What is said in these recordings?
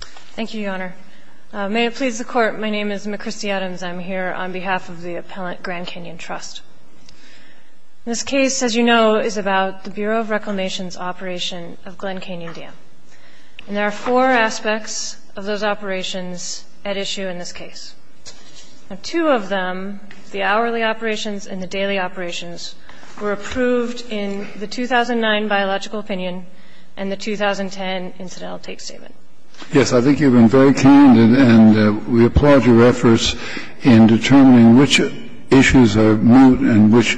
Thank you, Your Honor. May it please the Court, my name is McChristy Adams. I'm here on behalf of the appellant Grand Canyon Trust. This case, as you know, is about the Bureau of Reclamation's operation of Glen Canyon Dam. And there are four aspects of those operations at issue in this case. Two of them, the hourly operations and the daily operations, were approved in the 2009 biological opinion and the 2010 incidental take statement. Yes, I think you've been very candid. And we applaud your efforts in determining which issues are moot and which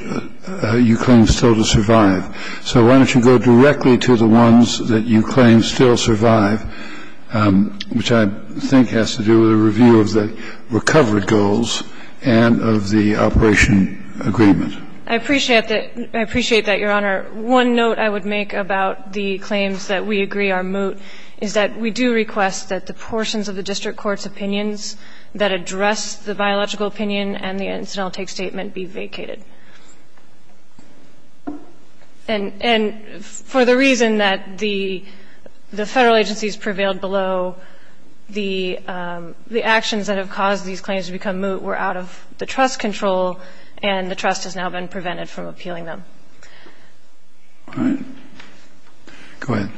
you claim still to survive. So why don't you go directly to the ones that you claim still survive, which I think has to do with a review of the recovered goals and of the operation agreement. I appreciate that, Your Honor. One note I would make about the claims that we agree are moot is that we do request that the portions of the district court's opinions that address the biological opinion and the incidental take statement be vacated. And for the reason that the federal agencies prevailed below, the actions that have caused these claims to become moot were out of the trust control, and the trust has now been prevented from appealing them. Go ahead.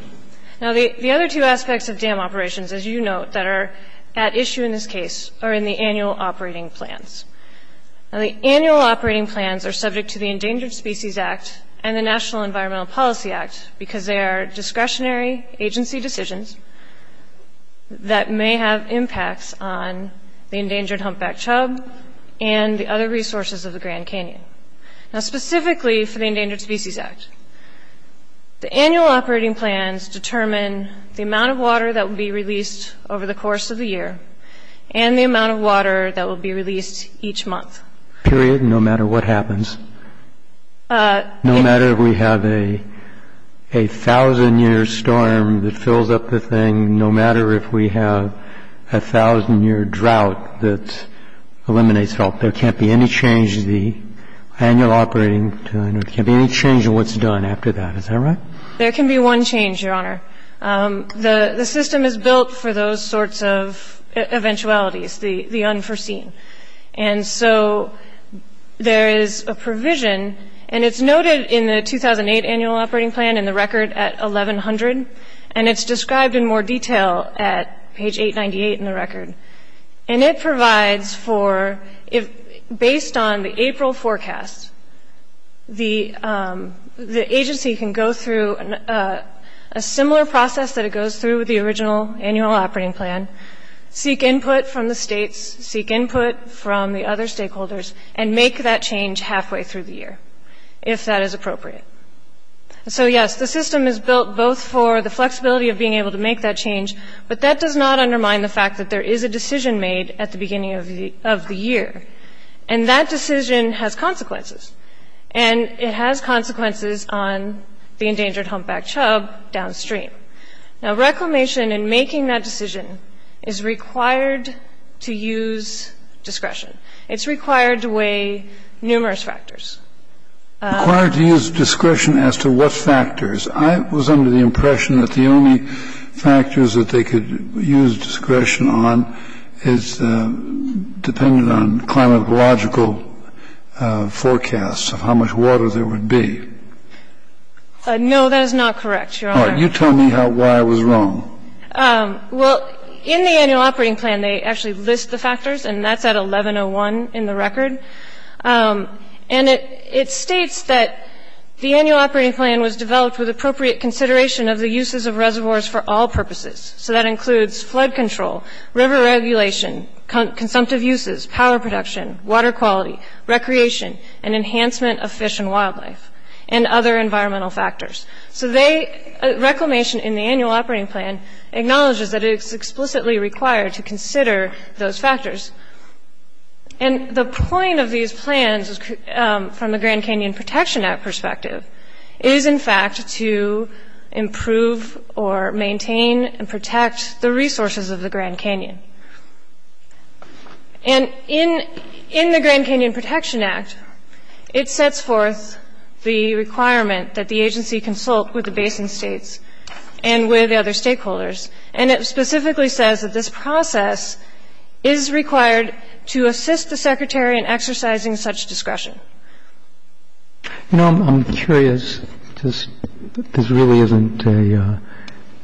Now, the other two aspects of dam operations, as you note, that are at issue in this case are in the annual operating plans. Now, the annual operating plans are subject to the Endangered Species Act and the National Environmental Policy Act because they are discretionary agency decisions that may have impacts on the endangered humpback chub and the other resources of the Grand Canyon. Now, specifically for the Endangered Species Act, the annual operating plans determine the amount of water that will be released over the course of the year and the amount of water that will be released each month. Period, no matter what happens. No matter if we have a 1,000-year storm that fills up the thing, no matter if we have a 1,000-year drought that eliminates it all. There can't be any change in the annual operating plan. There can't be any change in what's done after that. Is that right? There can be one change, Your Honor. The system is built for those sorts of eventualities, the unforeseen. And so there is a provision, and it's noted in the 2008 annual operating plan in the record at 1,100, and it's described in more detail at page 898 in the record. And it provides for, based on the April forecast, the agency can go through a similar process that it goes through with the original annual operating plan, seek input from the states, seek input from the other stakeholders, and make that change halfway through the year, if that is appropriate. So yes, the system is built both for the flexibility of being able to make that change, but that does not undermine the fact that there is a decision made at the beginning of the year. And that decision has consequences. And it has consequences on the endangered humpback chub downstream. Now, reclamation in making that decision is required to use discretion. It's required to weigh numerous factors. Required to use discretion as to what factors? I was under the impression that the only factors that they could use discretion on is dependent on climatological forecasts of how much water there would be. No, that is not correct, Your Honor. All right, you tell me why I was wrong. Well, in the annual operating plan, they actually list the factors, and that's at 1101 in the record. And it states that the annual operating plan was developed with appropriate consideration of the uses of reservoirs for all purposes. So that includes flood control, river regulation, consumptive uses, power production, water quality, recreation, and enhancement of fish and wildlife, and other environmental factors. So reclamation in the annual operating plan acknowledges that it's explicitly required to consider those factors. And the point of these plans, from the Grand Canyon Protection Act perspective, is, in fact, to improve or maintain and protect the resources of the Grand Canyon. And in the Grand Canyon Protection Act, it sets forth the requirement that the agency consult with the basin states and with other stakeholders. And it specifically says that this process is required to assist the Secretary in exercising such discretion. You know, I'm curious. This really isn't a,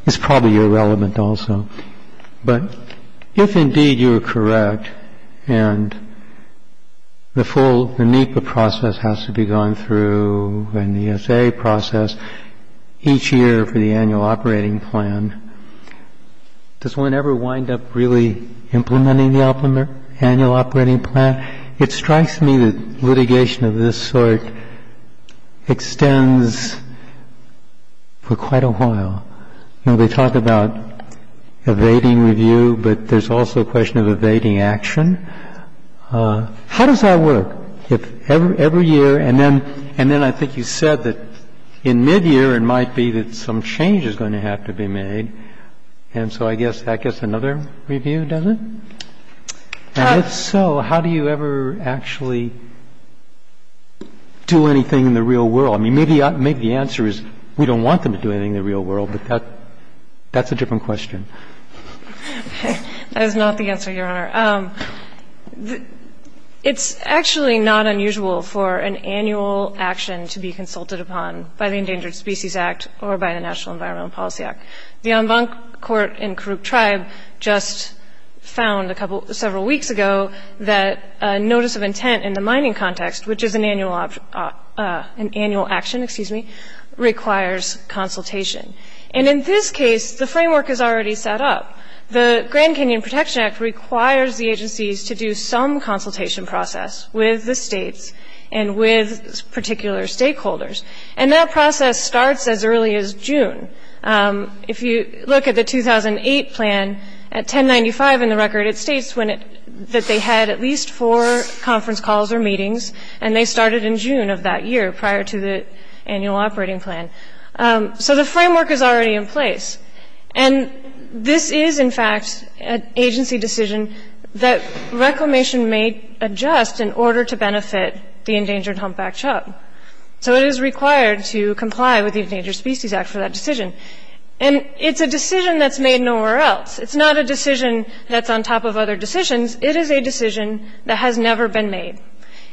it's probably irrelevant also. But if indeed you are correct, and the full NEPA process has to be gone through, and the SA process, each year for the annual operating plan, does one ever wind up really implementing the annual operating plan? It strikes me that litigation of this sort extends for quite a while. You know, they talk about evading review, but there's also a question of evading action. How does that work? If every year, and then I think you said that in mid-year, it might be that some change is going to have to be made. And so I guess another review doesn't? And if so, how do you ever actually do anything in the real world? I mean, maybe the answer is we don't want them to do anything in the real world, but that's a different question. That is not the answer, Your Honor. It's actually not unusual for an annual action to be consulted upon by the Endangered Species Act or by the National Environmental Policy Act. The Anbang Court in Karuk tribe just found several weeks ago that a notice of intent in the mining context, which is an annual action, excuse me, requires consultation. And in this case, the framework is already set up. The Grand Canyon Protection Act requires the agencies to do some consultation process with the states and with particular stakeholders. And that process starts as early as June. If you look at the 2008 plan, at 1095 in the record, it states that they had at least four conference calls or meetings. And they started in June of that year, prior to the annual operating plan. So the framework is already in place. And this is, in fact, an agency decision that reclamation may adjust in order to benefit the endangered humpback chub. So it is required to comply with the Endangered Species Act for that decision. And it's a decision that's made nowhere else. It's not a decision that's on top of other decisions. It is a decision that has never been made.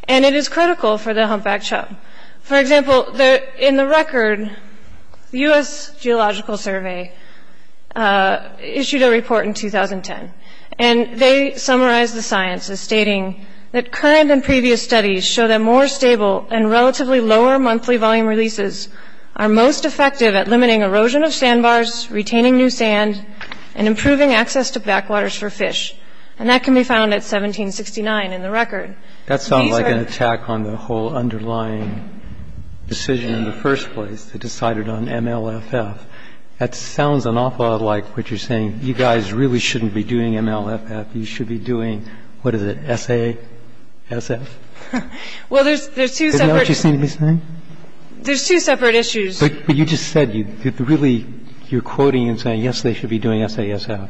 And it is critical for the humpback chub. For example, in the record, the US Geological Survey issued a report in 2010. And they summarized the sciences, stating that current and previous studies show that more stable and relatively lower monthly volume releases are most effective at limiting erosion of sandbars, retaining new sand, and improving access to backwaters for fish. And that can be found at 1769 in the record. That sounds like an attack on the whole underlying decision in the first place, that decided on MLFF. That sounds an awful lot like what you're saying. You guys really shouldn't be doing MLFF. You should be doing, what is it, SASF? Well, there's two separate Is that what you seem to be saying? There's two separate issues. But you just said, really, you're quoting and saying, yes, they should be doing SASF.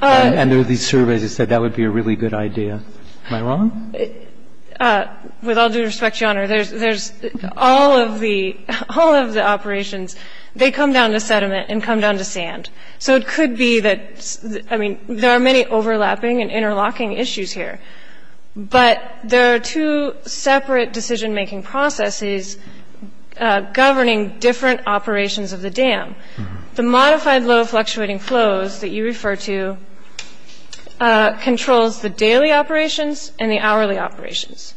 And there are these surveys that said that would be a really good idea. Am I wrong? With all due respect, Your Honor, there's all of the operations, they come down to sediment and come down to sand. So it could be that, I mean, there are many overlapping and interlocking issues here. But there are two separate decision-making processes governing different operations of the dam. The modified low fluctuating flows that you refer to controls the daily operations and the hourly operations.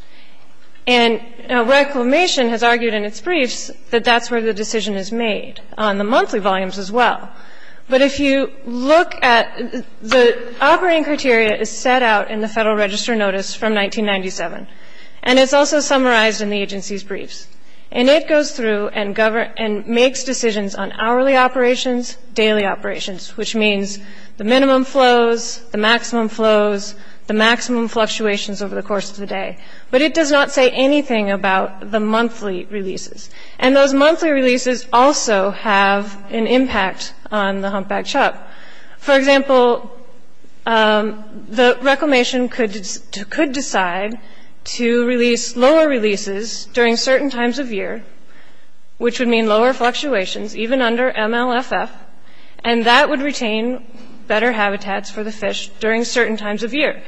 And Reclamation has argued in its briefs that that's where the decision is made, on the monthly volumes as well. But if you look at the operating criteria is set out in the Federal Register Notice from 1997. And it's also summarized in the agency's briefs. And it goes through and makes decisions on hourly operations, daily operations, which means the minimum flows, the maximum flows, the maximum fluctuations over the course of the day. But it does not say anything about the monthly releases. And those monthly releases also have an impact on the humpback chop. For example, the Reclamation could decide to release lower releases during certain times of year, which would mean lower fluctuations, even under MLFF. And that would retain better habitats for the fish during certain times of year.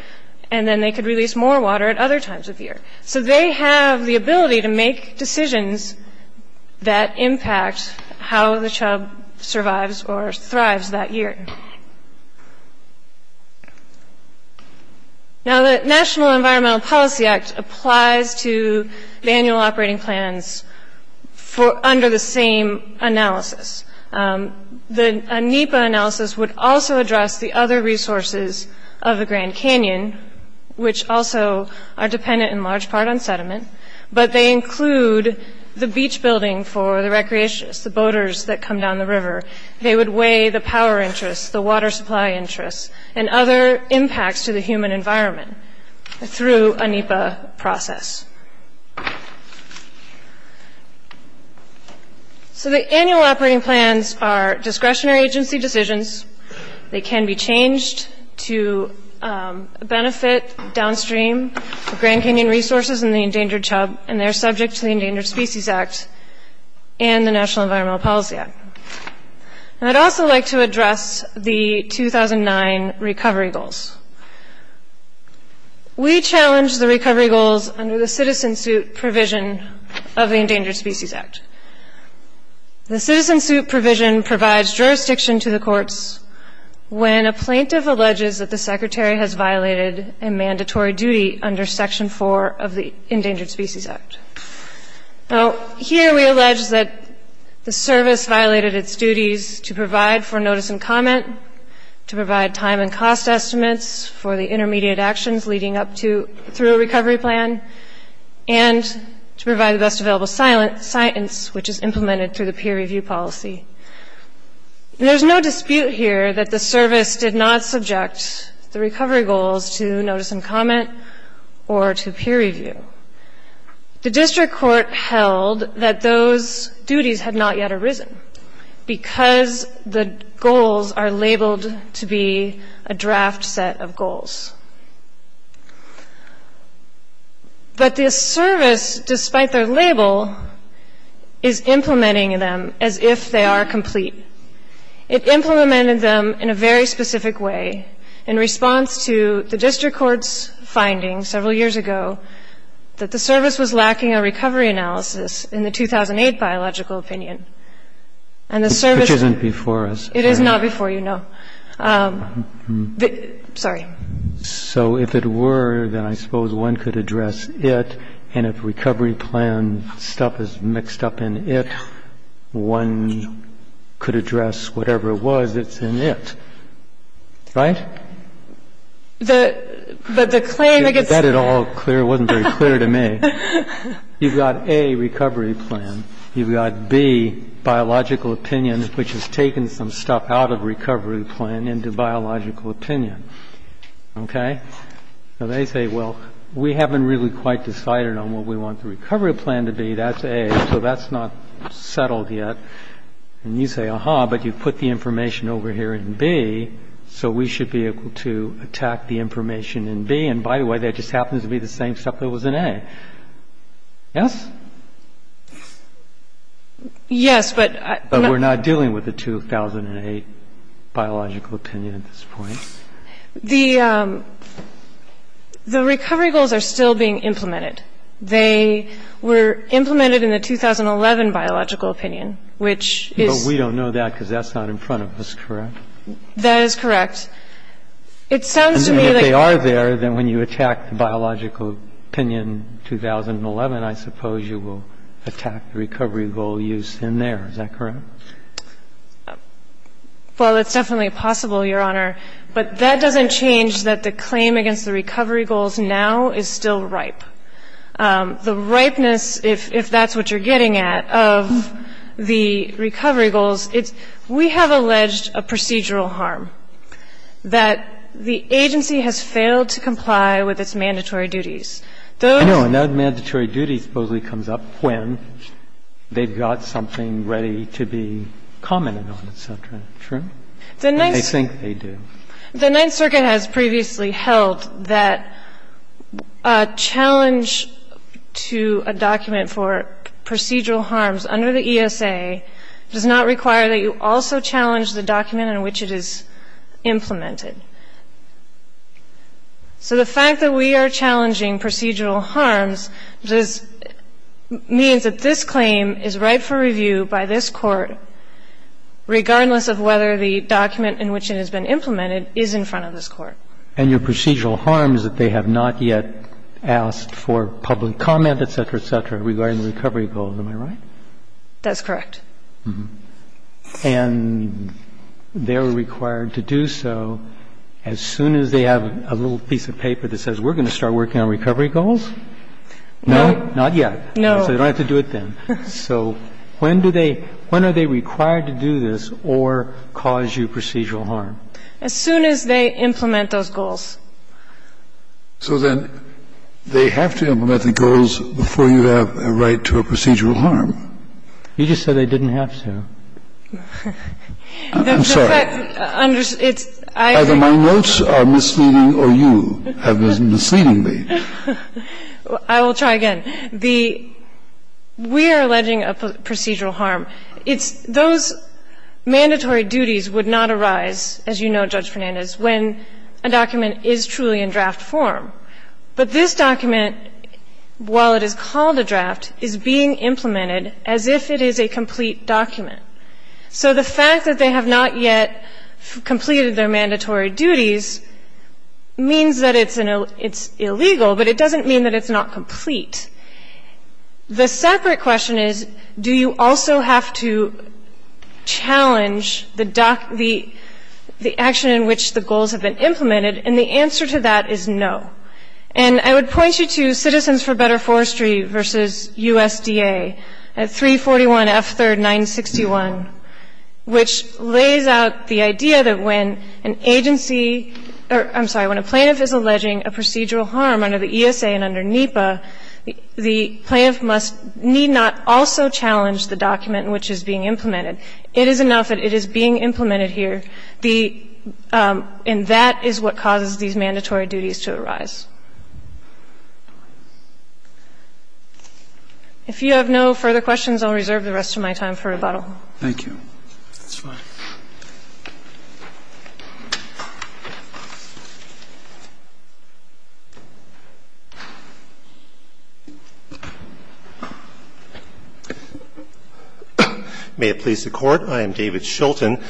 And then they could release more water at other times of year. So they have the ability to make decisions that impact how the chub survives or thrives that year. Now, the National Environmental Policy Act applies to the annual operating plans under the same analysis. The NEPA analysis would also address the other resources of the Grand Canyon, which also are dependent in large part on sediment. But they include the beach building for the recreationists, the boaters that come down the river. They would weigh the power interests, the water supply interests, and other impacts to the human environment through a NEPA process. So the annual operating plans are discretionary agency decisions. They can be changed to benefit downstream Grand Canyon resources and the endangered chub. And they're subject to the Endangered Species Act and the National Environmental Policy Act. And I'd also like to address the 2009 recovery goals. We challenged the recovery goals under the citizen suit provision of the Endangered Species Act. The citizen suit provision provides jurisdiction to the courts when a plaintiff alleges that the secretary has violated a mandatory duty under section 4 of the Endangered Species Act. Now, here we allege that the service violated its duties to provide for notice and comment, to provide time and cost estimates for the intermediate actions leading up to through a recovery plan, and to provide the best available science, which is implemented through the peer review policy. There's no dispute here that the service did not subject the recovery goals to notice and comment or to peer review. The district court held that those duties had not yet arisen because the goals are labeled to be a draft set of goals. But the service, despite their label, is implementing them as if they are complete. It implemented them in a very specific way in response to the district court's finding several years ago that the service was lacking a recovery analysis in the 2008 biological opinion. And the service isn't before us. It is not before you, no. Sorry. So if it were, then I suppose one could address it. And if recovery plan stuff is mixed up in it, one could address whatever it was that's in it, right? The claim that gets Is that at all clear? It wasn't very clear to me. You've got A, recovery plan. You've got B, biological opinion, which has taken some stuff out of recovery plan into biological opinion, OK? So they say, well, we haven't really quite decided on what we want the recovery plan to be. That's A, so that's not settled yet. And you say, uh-huh, but you put the information over here in B, so we should be able to attack the information in B. And by the way, that just happens to be the same stuff that was in A. Yes? Yes, but But we're not dealing with the 2008 biological opinion at this point. The recovery goals are still being implemented. They were implemented in the 2011 biological opinion, which is But we don't know that because that's not in front of us, correct? That is correct. It sounds to me like And if they are there, then when you attack the biological opinion in 2011, I suppose you will attack the recovery goal used in there. Is that correct? Well, it's definitely possible, Your Honor. But that doesn't change that the claim against the recovery goals now is still ripe. The ripeness, if that's what you're getting at, of the recovery goals, we have alleged a procedural harm, that the agency has failed to comply with its mandatory duties. I know, and that mandatory duty supposedly comes up when they've got something ready to be commented on, et cetera. True? I think they do. The Ninth Circuit has previously held that a challenge to a document for procedural harms under the ESA does not require that you also challenge the document in which it is implemented. So the fact that we are challenging procedural harms means that this claim is ripe for review by this Court, regardless of whether the document in which it has been implemented is in front of this Court. And your procedural harm is that they have not yet asked for public comment, et cetera, et cetera, regarding the recovery goals. Am I right? That's correct. And they are required to do so as soon as they have a little piece of paper that says, we're going to start working on recovery goals? No. Not yet. No. So they don't have to do it then. So when do they – when are they required to do this or cause you procedural harm? As soon as they implement those goals. So then they have to implement the goals before you have a right to a procedural harm. You just said they didn't have to. I'm sorry. It's – I agree. Either my notes are misleading or you have been misleading me. I will try again. The – we are alleging a procedural harm. It's – those mandatory duties would not arise, as you know, Judge Fernandez, when a document is truly in draft form. But this document, while it is called a draft, is being implemented as if it is a complete document. So the fact that they have not yet completed their mandatory duties means that it's an – it's illegal, but it doesn't mean that it's not complete. The separate question is, do you also have to challenge the – the action in which the goals have been implemented? And the answer to that is no. And I would point you to Citizens for Better Forestry versus USDA, 341F3R961, which lays out the idea that when an agency – or, I'm sorry, when a plaintiff is alleging a The plaintiff must – need not also challenge the document in which it is being implemented. It is enough that it is being implemented here. The – and that is what causes these mandatory duties to arise. If you have no further questions, I'll reserve the rest of my time for rebuttal. Thank you. That's fine. May it please the Court, I am David Shulton.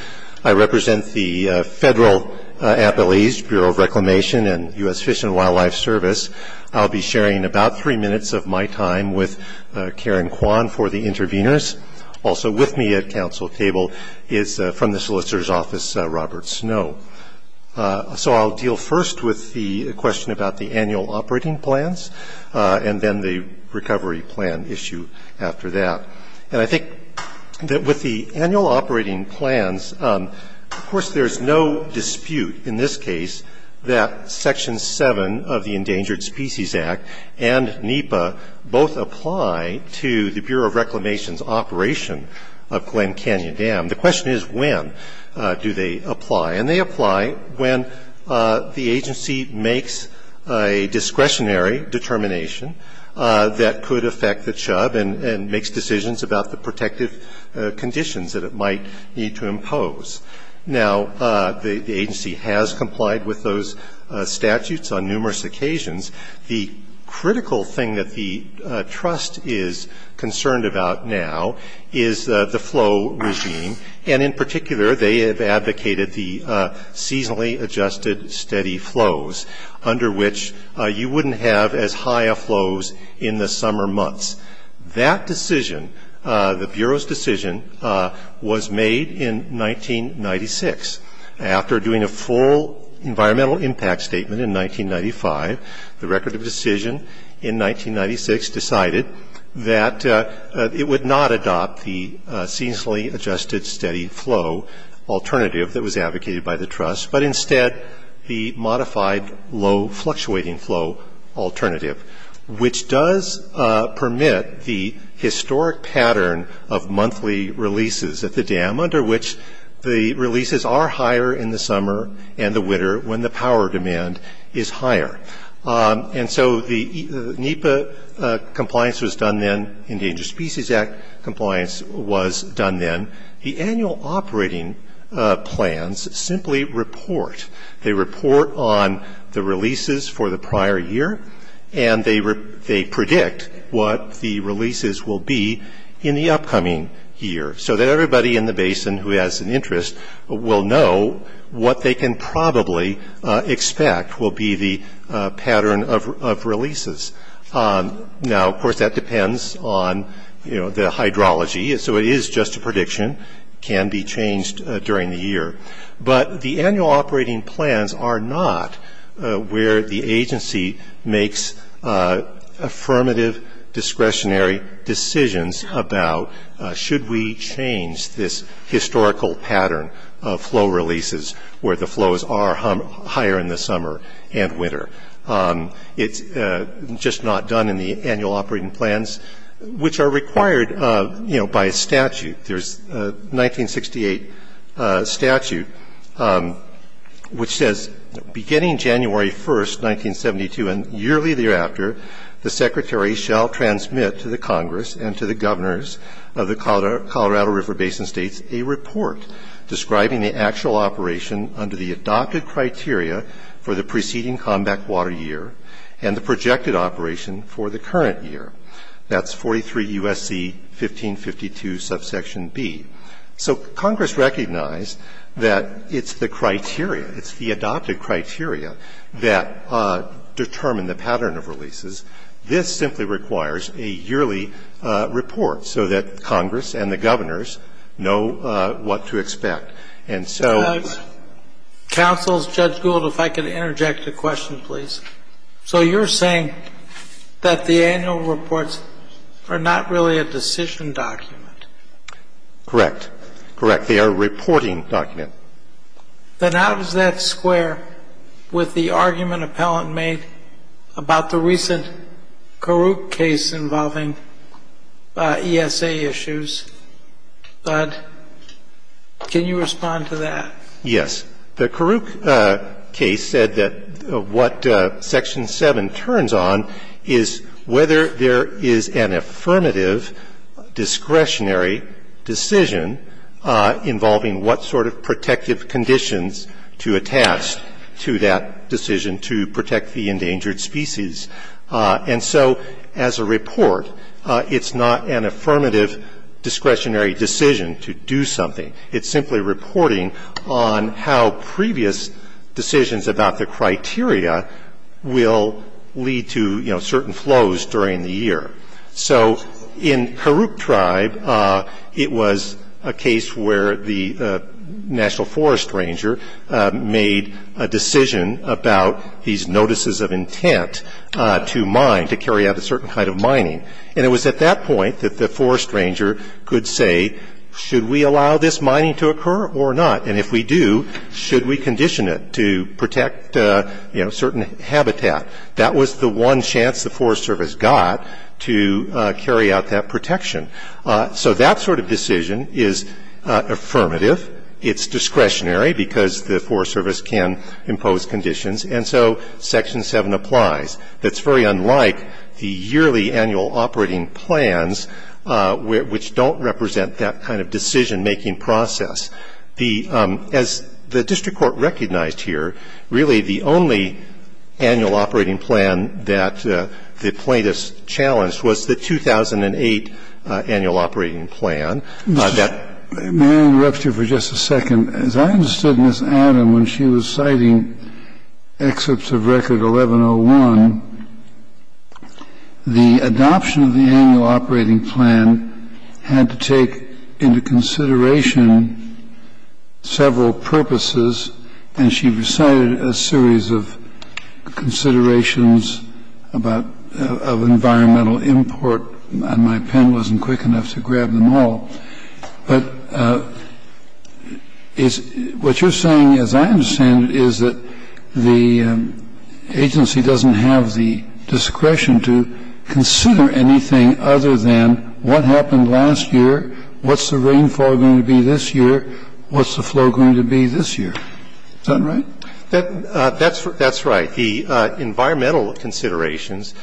I represent the federal appellees, Bureau of Reclamation and U.S. Fish and Wildlife Service. I'll be sharing about three minutes of my time with Karen Kwan for the interveners. Also with me at council table is from the solicitor's office, Robert Snow. So I'll deal first with the question about the annual operating plans and then the recovery plan issue after that. And I think that with the annual operating plans, of course, there's no dispute in this case that Section 7 of the Endangered Species Act and NEPA both apply to the operation of Glen Canyon Dam. The question is when do they apply. And they apply when the agency makes a discretionary determination that could affect the chub and makes decisions about the protective conditions that it might need to impose. Now, the agency has complied with those statutes on numerous occasions. The critical thing that the trust is concerned about now is the flow regime. And in particular, they have advocated the seasonally adjusted steady flows under which you wouldn't have as high of flows in the summer months. That decision, the Bureau's decision, was made in 1996. After doing a full environmental impact statement in 1995, the record of decision in 1996 decided that it would not adopt the seasonally adjusted steady flow alternative that was advocated by the trust, but instead the modified low fluctuating flow alternative, which does permit the historic pattern of monthly releases at the dam under which the releases are higher in the summer and the winter when the power demand is higher. And so the NEPA compliance was done then, Endangered Species Act compliance was done then. The annual operating plans simply report. They report on the releases for the prior year, and they predict what the releases will be in the upcoming year. So that everybody in the basin who has an interest will know what they can probably expect will be the pattern of releases. Now, of course, that depends on, you know, the hydrology, so it is just a prediction, can be changed during the year. But the annual operating plans are not where the agency makes affirmative discretionary decisions about should we change this historical pattern of flow releases where the flows are higher in the summer and winter. It's just not done in the annual operating plans, which are required, you know, by statute. There's a 1968 statute which says, beginning January 1st, 1972, and yearly thereafter, the Secretary shall transmit to the Congress and to the Governors of the Colorado River Basin States a report describing the actual operation under the adopted criteria for the preceding combat water year and the projected operation for the current year. That's 43 U.S.C. 1552, subsection B. So Congress recognized that it's the criteria, it's the adopted criteria that determine the pattern of releases. This simply requires a yearly report so that Congress and the Governors know what to expect. And so... Judge Gould, if I could interject a question, please. So you're saying that the annual reports are not really a decision document? Correct. Correct. They are a reporting document. Then how does that square with the argument Appellant made about the recent Karuk case involving ESA issues? But can you respond to that? Yes. The Karuk case said that what Section 7 turns on is whether there is an affirmative discretionary decision involving what sort of protective conditions to attach to that decision to protect the endangered species. And so as a report, it's not an affirmative discretionary decision to do something. It's simply reporting on how previous decisions about the criteria will lead to certain flows during the year. So in Karuk Tribe, it was a case where the National Forest Ranger made a decision about these notices of intent to mine, to carry out a certain kind of mining. And it was at that point that the Forest Ranger could say, should we allow this mining to occur or not? And if we do, should we condition it to protect certain habitat? That was the one chance the Forest Service got to carry out that protection. So that sort of decision is affirmative. It's discretionary because the Forest Service can impose conditions. And so Section 7 applies. That's very unlike the yearly annual operating plans, which don't represent that kind of decision-making process. As the district court recognized here, really the only annual operating plan that the plaintiffs challenged was the 2008 annual operating plan. May I interrupt you for just a second? As I understood Ms. Adam, when she was citing excerpts of Record 1101, the adoption of the annual operating plan had to take into consideration several purposes. And she recited a series of considerations of environmental import. And my pen wasn't quick enough to grab them all. But what you're saying, as I understand it, is that the agency doesn't have the discretion to consider anything other than what happened last year, what's the rainfall going to be this year, what's the flow going to be this year. Is that right? That's right. The environmental considerations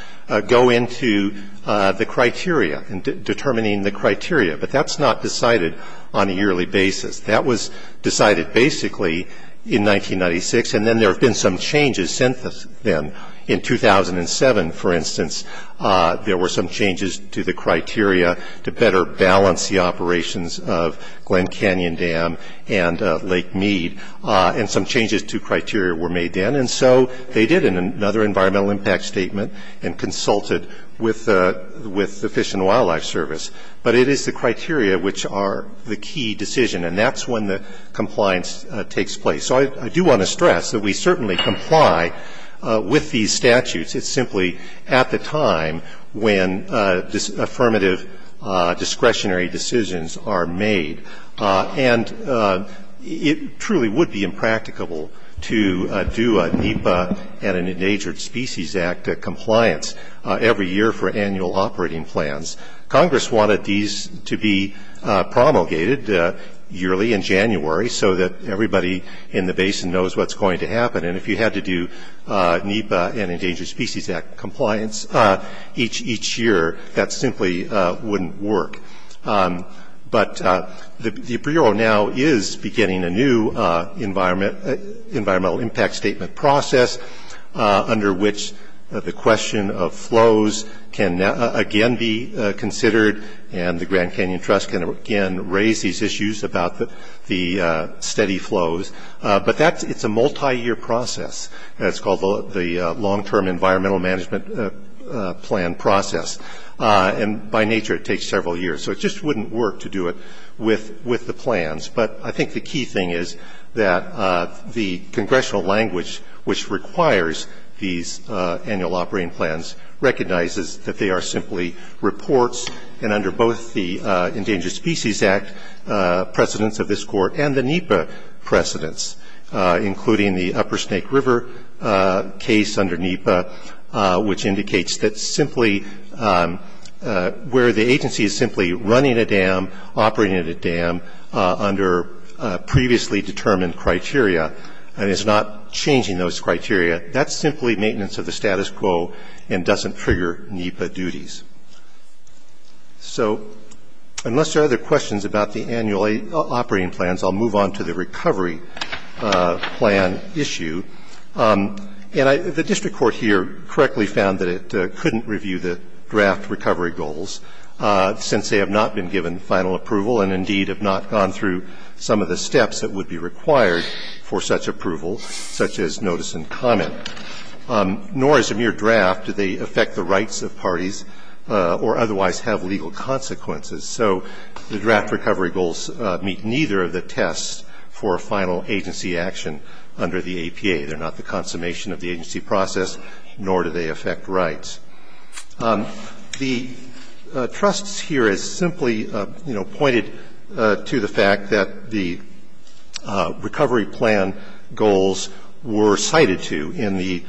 go into the criteria and determining the criteria. But that's not decided on a yearly basis. That was decided basically in 1996. And then there have been some changes since then. In 2007, for instance, there were some changes to the criteria to better balance the operations of Glen Canyon Dam and Lake Mead. And some changes to criteria were made then. And so they did another environmental impact statement and consulted with the Fish and Wildlife Service. But it is the criteria which are the key decision. And that's when the compliance takes place. So I do want to stress that we certainly comply with these statutes. It's simply at the time when affirmative discretionary decisions are made. And it truly would be impracticable to do a NEPA and an Endangered Species Act compliance every year for annual operating plans. Congress wanted these to be promulgated yearly in January so that everybody in the basin knows what's going to happen. And if you had to do NEPA and Endangered Species Act compliance each year, that simply wouldn't work. But the Bureau now is beginning a new environmental impact statement process under which the question of flows can again be considered. And the Grand Canyon Trust can again raise these issues about the steady flows. But it's a multi-year process. It's called the Long-Term Environmental Management Plan process. And by nature it takes several years. So it just wouldn't work to do it with the plans. But I think the key thing is that the congressional language which requires these annual operating plans recognizes that they are simply reports. And under both the Endangered Species Act precedents of this Court and the NEPA precedents, including the Upper Snake River case under NEPA, which indicates that simply where the agency is simply running a dam, operating at a dam, under previously determined criteria and is not changing those criteria, that's simply maintenance of the status quo and doesn't trigger NEPA duties. So unless there are other questions about the annual operating plans, I'll move on to the recovery plan issue. And the district court here correctly found that it couldn't review the draft recovery goals since they have not been given final approval and indeed have not gone through some of the steps that would be required for such approval, such as notice and comment. Nor is a mere draft. Do they affect the rights of parties or otherwise have legal consequences? So the draft recovery goals meet neither of the tests for final agency action under the APA. They're not the consummation of the agency process, nor do they affect rights. The trusts here is simply, you know, pointed to the fact that the recovery plan goals were cited to in the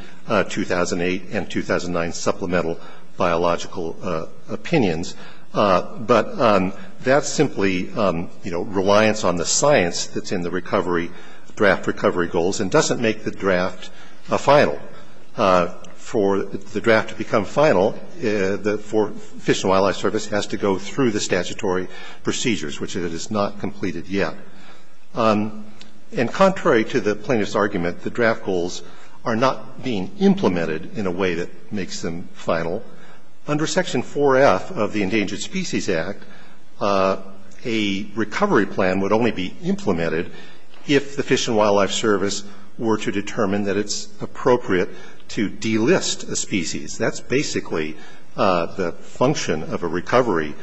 2008 and 2009 supplemental biological opinions, but that's simply, you know, reliance on the science that's in the recovery, draft recovery goals and doesn't make the draft final. For the draft to become final, the Fish and Wildlife Service has to go through the statutory procedures, which it has not completed yet. And contrary to the plaintiff's argument, the draft goals are not being implemented in a way that makes them final. Under Section 4F of the Endangered Species Act, a recovery plan would only be implemented if the Fish and Wildlife Service were to determine that it's appropriate to delist a species. That's basically the function of a recovery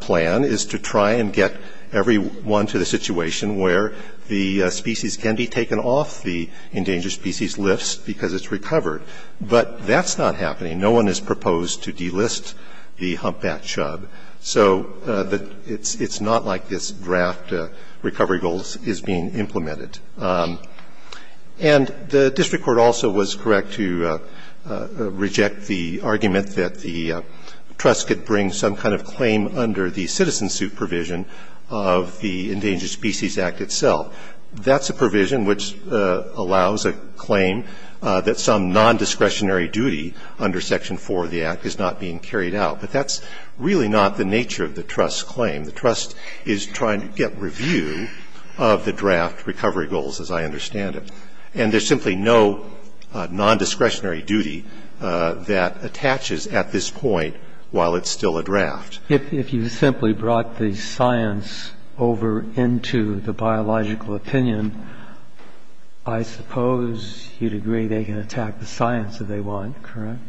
plan, is to try and get everyone to the situation where the species can be taken off the endangered species list because it's recovered. But that's not happening. No one has proposed to delist the humpback chub. So it's not like this draft recovery goals is being implemented. And the district court also was correct to reject the argument that the trust could bring some kind of claim under the citizen suit provision of the Endangered Species Act itself. That's a provision which allows a claim that some non-discretionary duty under Section 4 of the Act is not being carried out. But that's really not the nature of the trust's claim. The trust is trying to get review of the draft recovery goals, as I understand it. And there's simply no non-discretionary duty that attaches at this point while it's still a draft. If you simply brought the science over into the biological opinion, I suppose you'd agree they can attack the science if they want, correct?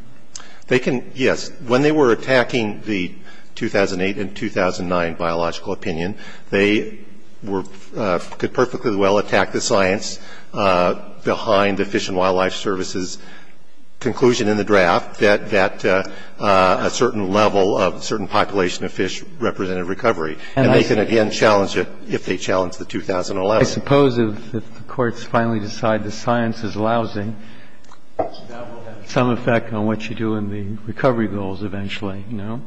They can, yes. When they were attacking the 2008 and 2009 biological opinion, they could perfectly well attack the science behind the Fish and Wildlife Service's conclusion in the draft that a certain level of certain population of fish represented recovery. And they can, again, challenge it if they challenge the 2011. I suppose if the courts finally decide the science is lousy, that will have some effect on what you do in the recovery goals eventually, no?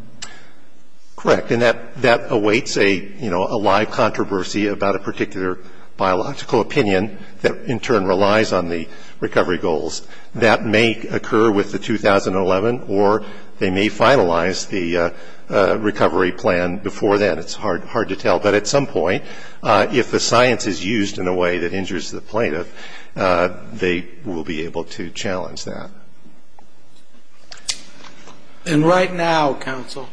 Correct. And that awaits a, you know, a live controversy about a particular biological opinion that in turn relies on the recovery goals. That may occur with the 2011 or they may finalize the recovery plan before then. It's hard to tell. But at some point, if the science is used in a way that injures the plaintiff, they will be able to challenge that. And right now, counsel,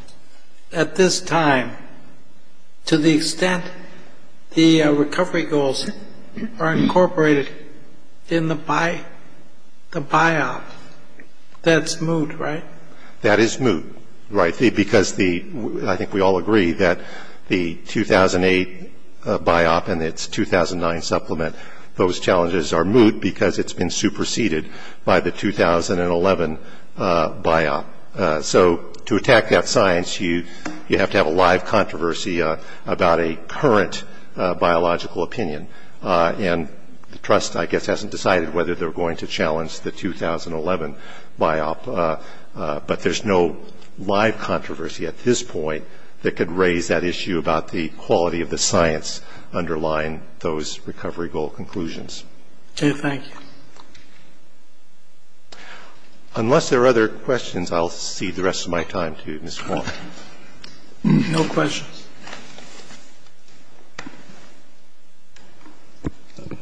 at this time, to the extent the recovery goals are incorporated in the biop, that's moot, right? That is moot, right. Because I think we all agree that the 2008 biop and its 2009 supplement, those challenges are moot because it's been superseded by the 2011 biop. So to attack that science, you have to have a live controversy about a current biological opinion. And the trust, I guess, hasn't decided whether they're going to challenge the 2011 biop. But there's no live controversy at this point that could raise that issue about the quality of the science underlying those recovery goal conclusions. Thank you. Unless there are other questions, I'll cede the rest of my time to Ms. Kwan. No questions.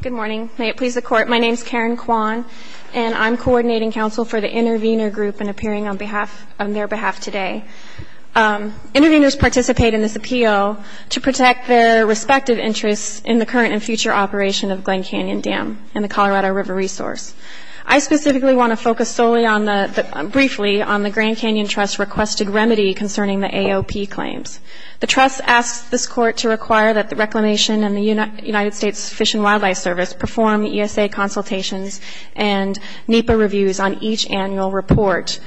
Good morning. May it please the Court. My name is Karen Kwan, and I'm coordinating counsel for the intervener group and appearing on behalf of their behalf today. Interveners participate in this appeal to protect their respective interests in the current and future operation of Glen Canyon Dam and the Colorado River resource. I specifically want to focus solely on the, briefly, on the Grand Canyon Trust requested remedy concerning the AOP claims. The trust asks this Court to require that the Reclamation and the United States Fish and Wildlife Service perform ESA consultations and NEPA reviews on each annual report,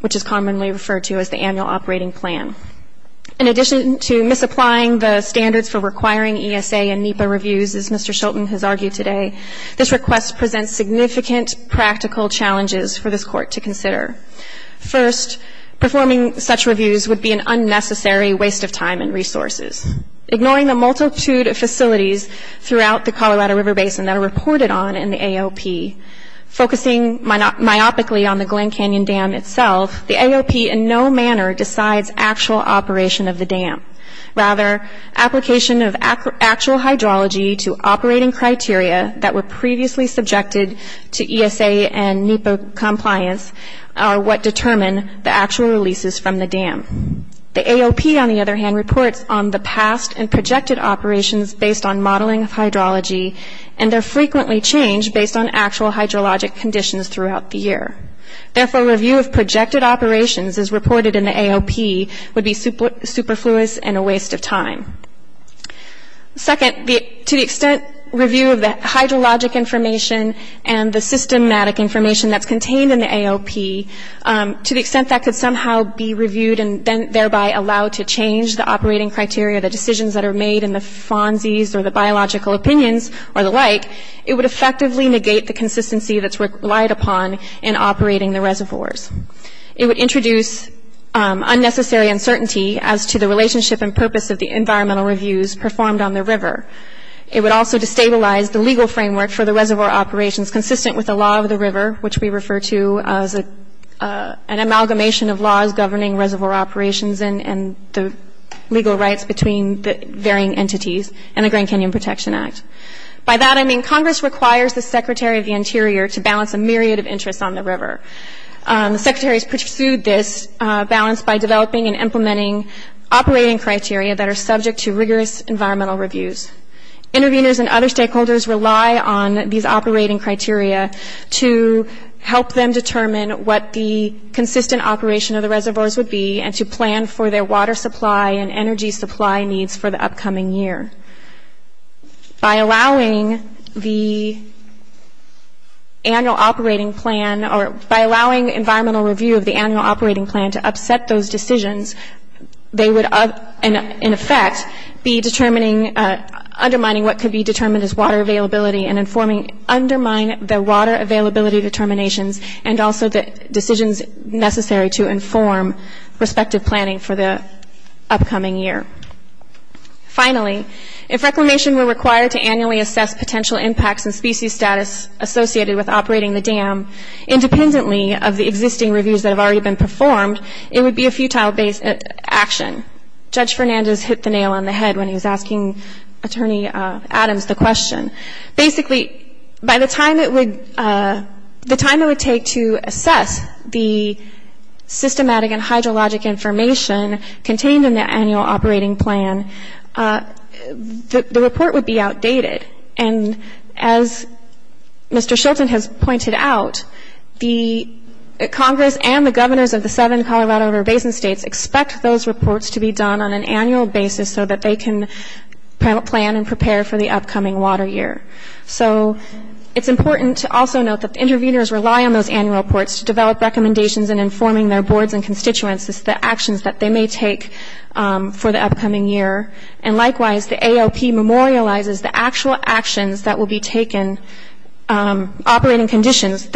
which is commonly referred to as the annual operating plan. In addition to misapplying the standards for requiring ESA and NEPA reviews, as Mr. Shilton has argued today, this request presents significant practical challenges for this Court to consider. First, performing such reviews would be an unnecessary waste of time and resources. Ignoring the multitude of facilities throughout the Colorado River Basin that are located myopically on the Glen Canyon Dam itself, the AOP in no manner decides actual operation of the dam. Rather, application of actual hydrology to operating criteria that were previously subjected to ESA and NEPA compliance are what determine the actual releases from the dam. The AOP, on the other hand, reports on the past and projected operations based on modeling of hydrology, and they're frequently changed based on actual hydrologic conditions throughout the year. Therefore, review of projected operations as reported in the AOP would be superfluous and a waste of time. Second, to the extent review of the hydrologic information and the systematic information that's contained in the AOP, to the extent that could somehow be reviewed and then thereby allowed to change the operating criteria, the decisions that are made, and the fonzies or the biological opinions or the like, it would effectively negate the consistency that's relied upon in operating the reservoirs. It would introduce unnecessary uncertainty as to the relationship and purpose of the environmental reviews performed on the river. It would also destabilize the legal framework for the reservoir operations consistent with the law of the river, which we refer to as an amalgamation of laws governing reservoir operations and the legal rights between the engineering entities and the Grand Canyon Protection Act. By that I mean Congress requires the Secretary of the Interior to balance a myriad of interests on the river. The Secretary has pursued this balance by developing and implementing operating criteria that are subject to rigorous environmental reviews. Interveners and other stakeholders rely on these operating criteria to help them determine what the consistent operation of the reservoirs would be and to plan for their water supply and energy supply needs for the upcoming year. By allowing the annual operating plan or by allowing environmental review of the annual operating plan to upset those decisions, they would, in effect, be determining, undermining what could be determined as water availability and informing, undermine the water availability determinations and also the decisions necessary to inform respective planning for the upcoming year. Finally, if reclamation were required to annually assess potential impacts and species status associated with operating the dam, independently of the existing reviews that have already been performed, it would be a futile action. Judge Fernandez hit the nail on the head when he was asking Attorney Adams the question. Basically, by the time it would take to assess the systematic and hydrologic information contained in the annual operating plan, the report would be outdated. And as Mr. Shilton has pointed out, the Congress and the governors of the seven Colorado River Basin states expect those reports to be done on an annual basis so that they can plan and prepare for the upcoming water year. So it's important to also note that the interveners rely on those annual reports to develop recommendations and informing their boards and constituents as to the actions that they may take for the upcoming year. And likewise, the ALP memorializes the actual actions that will be taken operating conditions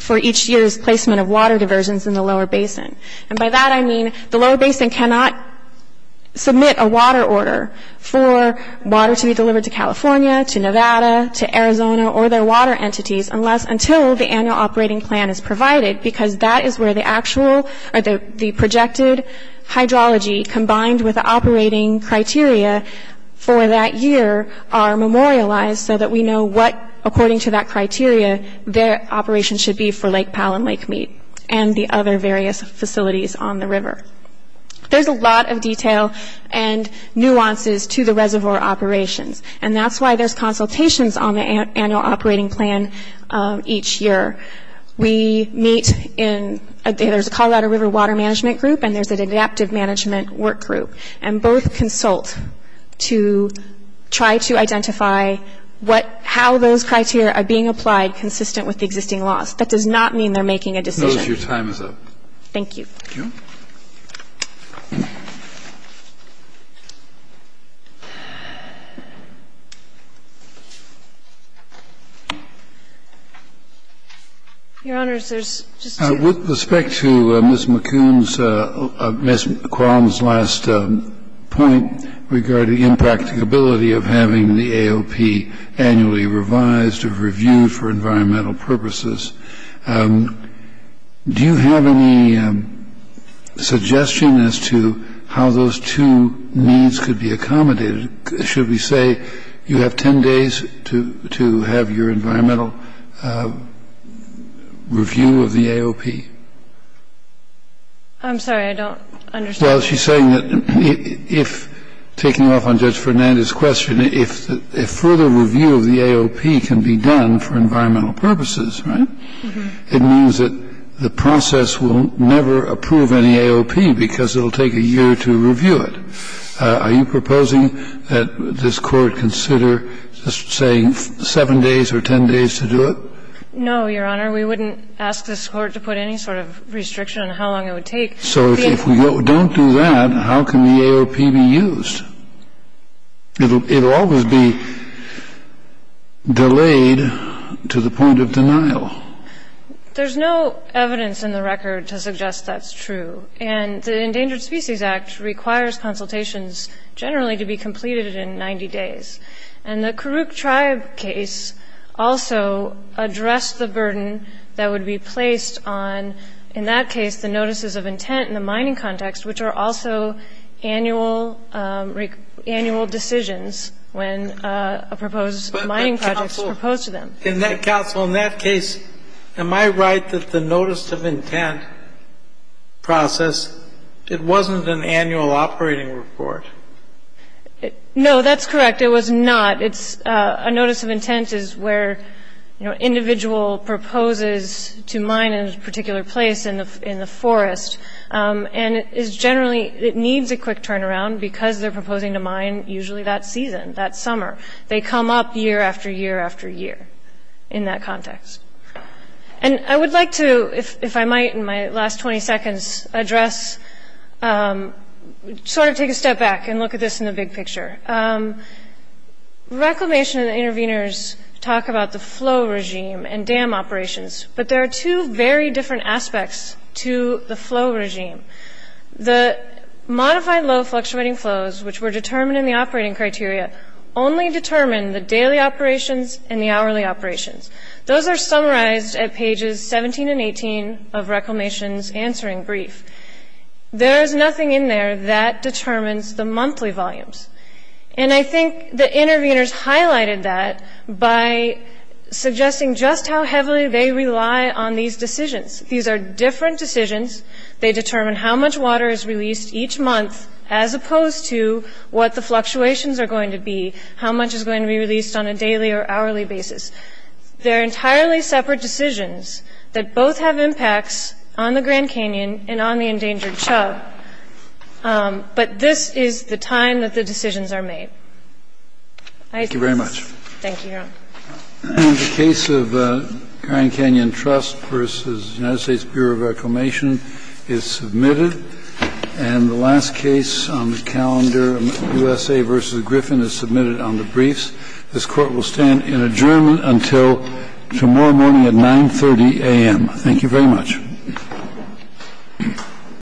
for each year's placement of water diversions in the lower basin. And by that I mean the lower basin cannot submit a water order for water to be delivered to California, to Nevada, to Arizona or their water entities unless until the annual operating plan is provided because that is where the actual or the projected hydrology combined with the operating criteria for that year are memorialized so that we know what, according to that criteria, their operation should be for Lake Powell and Lake Mead and the other various facilities on the river. There's a lot of detail and nuances to the reservoir operations, and that's why there's consultations on the annual operating plan each year. We meet in – there's a Colorado River Water Management Group and there's an Adaptive Management Work Group, and both consult to try to identify how those criteria are being applied consistent with the existing laws. That does not mean they're making a decision. Kennedy, your time is up. Thank you. Thank you. Your Honors, there's just two. With respect to Ms. McQuown's last point regarding impracticability of having the AOP annually revised or reviewed for environmental purposes, do you have any suggestion as to how those two needs could be accommodated? Should we say you have 10 days to have your environmental review of the AOP? I'm sorry. I don't understand. Well, she's saying that if, taking off on Judge Fernandez's question, if further review of the AOP can be done for environmental purposes, right, it means that the process will never approve any AOP because it will take a year to review it. Are you proposing that this Court consider, say, 7 days or 10 days to do it? No, Your Honor. We wouldn't ask this Court to put any sort of restriction on how long it would take. So if we don't do that, how can the AOP be used? It will always be delayed to the point of denial. There's no evidence in the record to suggest that's true. And the Endangered Species Act requires consultations generally to be completed in 90 days. And the Karuk Tribe case also addressed the burden that would be placed on, in that case, the notices of intent in the mining context, which are also annual decisions when a proposed mining project is proposed to them. But, counsel, in that case, am I right that the notice of intent process, it wasn't an annual operating report? No, that's correct. It was not. It's a notice of intent is where, you know, individual proposes to mine in a particular place in the forest. And it is generally, it needs a quick turnaround because they're proposing to mine usually that season, that summer. They come up year after year after year in that context. And I would like to, if I might, in my last 20 seconds, address, sort of take a step back and look at this in the big picture. Reclamation and the interveners talk about the flow regime and dam operations, but there are two very different aspects to the flow regime. The modified low fluctuating flows, which were determined in the operating criteria, only determine the daily operations and the hourly operations. Those are summarized at pages 17 and 18 of Reclamation's answering brief. There is nothing in there that determines the monthly volumes. And I think the interveners highlighted that by suggesting just how heavily they rely on these decisions. These are different decisions. They determine how much water is released each month as opposed to what the fluctuations are going to be, how much is going to be released on a daily or hourly basis. They're entirely separate decisions that both have impacts on the Grand Canyon and on the endangered chub. But this is the time that the decisions are made. Thank you very much. Thank you, Your Honor. The case of Grand Canyon Trust v. United States Bureau of Reclamation is submitted. And the last case on the calendar, USA v. Griffin, is submitted on the briefs. This Court will stand in adjournment until tomorrow morning at 9.30 a.m. Thank you very much.